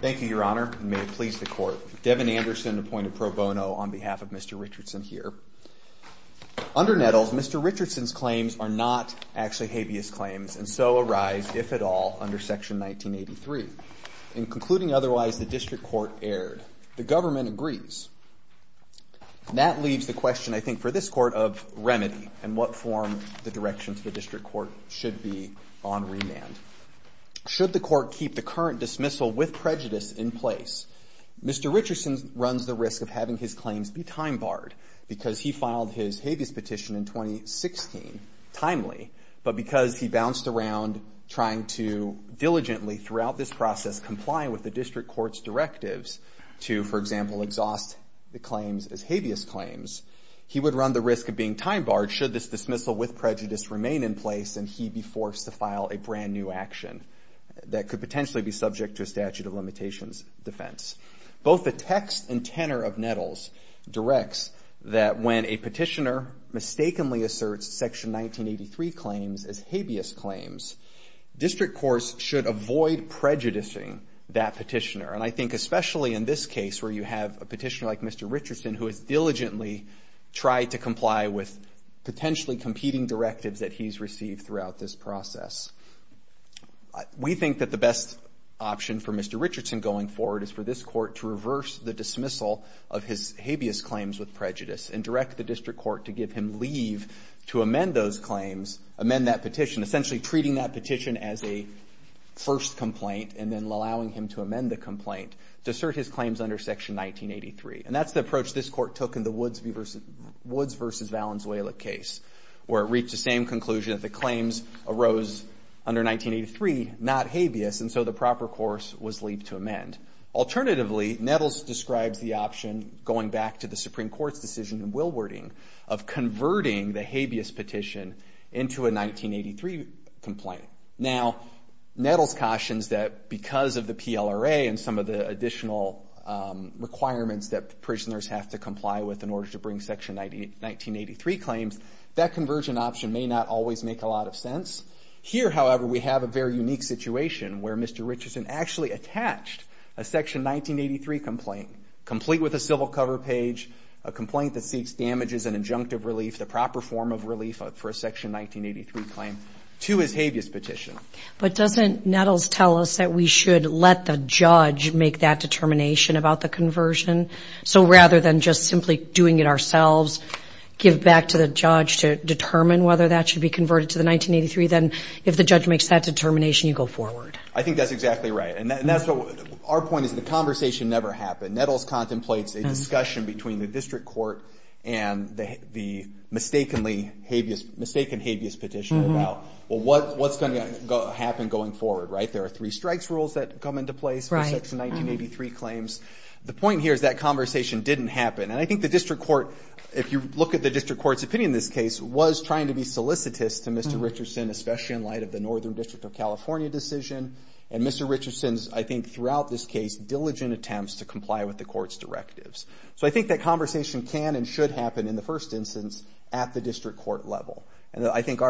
Thank you, Your Honor, and may it please the Court. Devin Anderson, appointed pro bono on behalf of Mr. Richardson here. Under Nettles, Mr. Richardson's claims are not actually habeas claims, and so arise, if at all, under Section 1983. In concluding otherwise, the District Court erred. The government agrees. That leaves the question, I think, for this Court, of remedy, and what form the direction to the District Court should be on remand. Should the Court keep the current dismissal with prejudice in place? Mr. Richardson runs the risk of having his claims be time-barred because he filed his habeas petition in 2016 timely, but because he bounced around trying to diligently throughout this process comply with the District Court's directives to, for example, exhaust the claims as habeas claims, he would run the risk of being time-barred should this dismissal with prejudice remain in place and he be forced to file a brand-new action that could potentially be subject to a statute of limitations defense. Both the text and tenor of Nettles directs that when a petitioner mistakenly asserts Section 1983 claims as habeas claims, District Courts should avoid prejudicing that petitioner, and I think especially in this case where you have a petitioner like Mr. Richardson who has diligently tried to comply with potentially competing directives that he's received throughout this process. We think that the best option for Mr. Richardson going forward is for this Court to reverse the dismissal of his habeas claims with prejudice and direct the District Court to give him leave to amend those claims, amend that petition, essentially treating that petition as a first complaint and then allowing him to amend the complaint to assert his claims under Section 1983. And that's the approach this Court took in the Woods v. Valenzuela case where it reached the same conclusion that the claims arose under 1983, not habeas, and so the proper course was leave to amend. Alternatively, Nettles describes the option, going back to the Supreme Court's decision in Willwarding, of converting the habeas petition into a 1983 complaint. Now, Nettles cautions that because of the PLRA and some of the additional requirements that prisoners have to comply with in order to bring Section 1983 claims, that conversion option may not always make a lot of sense. Here, however, we have a very unique situation where Mr. Richardson actually attached a Section 1983 complaint, complete with a civil cover page, a complaint that seeks damages and injunctive relief, the proper form of relief for a Section 1983 claim, to his habeas petition. But doesn't Nettles tell us that we should let the judge make that determination about the conversion? So rather than just simply doing it ourselves, give back to the judge to determine whether that should be converted to the 1983, then if the judge makes that determination, you go forward. I think that's exactly right. Our point is the conversation never happened. Nettles contemplates a discussion between the District Court and the mistaken habeas petition about, well, what's going to happen going forward, right? There are three strikes rules that come into place for Section 1983 claims. The point here is that conversation didn't happen, and I think the District Court, if you look at the District Court's opinion in this case, was trying to be solicitous to Mr. Richardson, especially in light of the Northern District of California decision, and Mr. Richardson's, I think, throughout this case, diligent attempts to comply with the Court's directives. So I think that conversation can and should happen, in the first instance, at the District Court level. And I think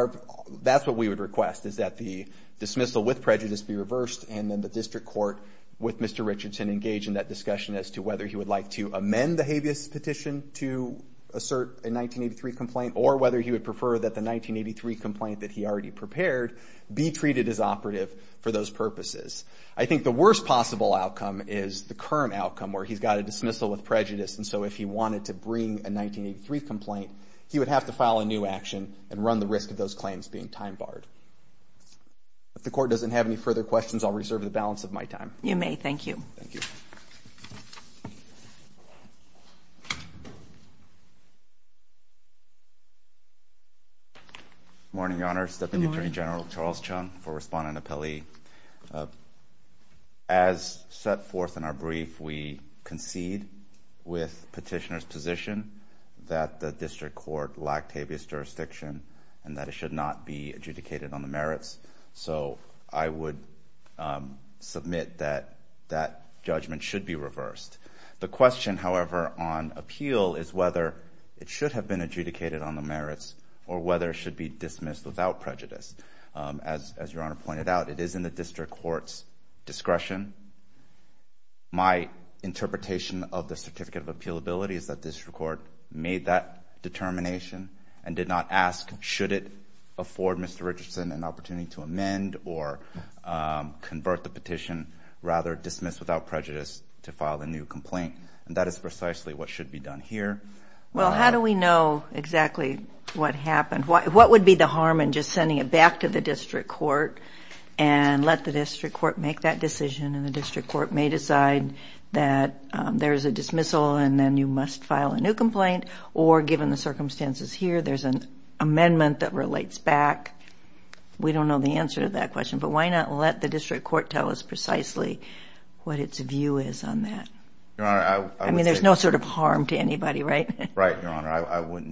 that's what we would request, is that the dismissal with prejudice be reversed and then the District Court, with Mr. Richardson, engage in that discussion as to whether he would like to amend the habeas petition to assert a 1983 complaint or whether he would prefer that the 1983 complaint that he already prepared be treated as operative for those purposes. I think the worst possible outcome is the current outcome, where he's got a dismissal with prejudice, and so if he wanted to bring a 1983 complaint, he would have to file a new action and run the risk of those claims being time-barred. If the Court doesn't have any further questions, I'll reserve the balance of my time. You may. Thank you. Thank you. Good morning, Your Honor. Good morning. Deputy Attorney General Charles Chung for Respondent Appellee. As set forth in our brief, if we concede with petitioner's position that the District Court lacked habeas jurisdiction and that it should not be adjudicated on the merits, so I would submit that that judgment should be reversed. The question, however, on appeal is whether it should have been adjudicated on the merits or whether it should be dismissed without prejudice. As Your Honor pointed out, it is in the District Court's discretion. My interpretation of the certificate of appealability is that District Court made that determination and did not ask should it afford Mr. Richardson an opportunity to amend or convert the petition, rather dismiss without prejudice to file a new complaint, and that is precisely what should be done here. Well, how do we know exactly what happened? What would be the harm in just sending it back to the District Court and let the District Court make that decision, and the District Court may decide that there's a dismissal and then you must file a new complaint, or given the circumstances here, there's an amendment that relates back? We don't know the answer to that question, but why not let the District Court tell us precisely what its view is on that? I mean, there's no sort of harm to anybody, right? Right, Your Honor.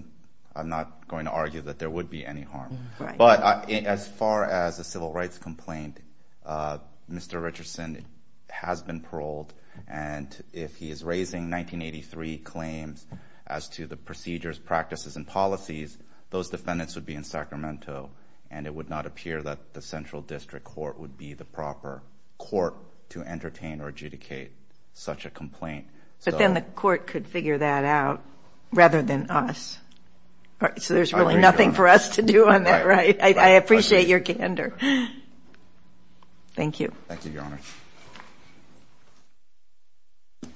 I'm not going to argue that there would be any harm. But as far as a civil rights complaint, Mr. Richardson has been paroled, and if he is raising 1983 claims as to the procedures, practices, and policies, those defendants would be in Sacramento, and it would not appear that the Central District Court would be the proper court to entertain or adjudicate such a complaint. But then the court could figure that out rather than us. All right. So there's really nothing for us to do on that, right? I appreciate your candor. Thank you. Thank you, Your Honor. I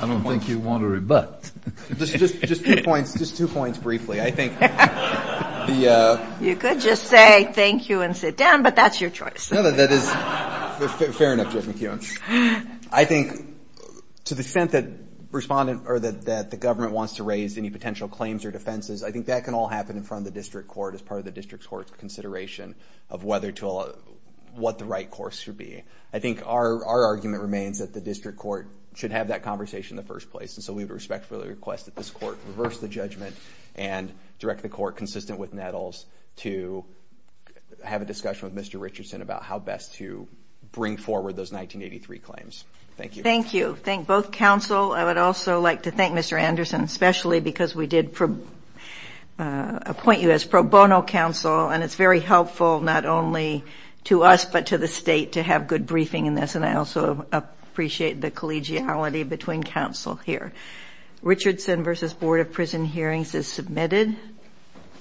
don't think you want to rebut. Just two points briefly. I think the ---- You could just say thank you and sit down, but that's your choice. No, that is fair enough, Judge McKeown. I think to the extent that the government wants to raise any potential claims or defenses, I think that can all happen in front of the district court as part of the district court's consideration of what the right course should be. I think our argument remains that the district court should have that conversation in the first place, and so we would respectfully request that this court reverse the judgment and direct the court, consistent with Nettles, to have a discussion with Mr. Richardson about how best to bring forward those 1983 claims. Thank you. Thank you. Thank both counsel. I would also like to thank Mr. Anderson, especially because we did appoint you as pro bono counsel, and it's very helpful not only to us but to the state to have good briefing in this, and I also appreciate the collegiality between counsel here. Richardson v. Board of Prison Hearings is submitted.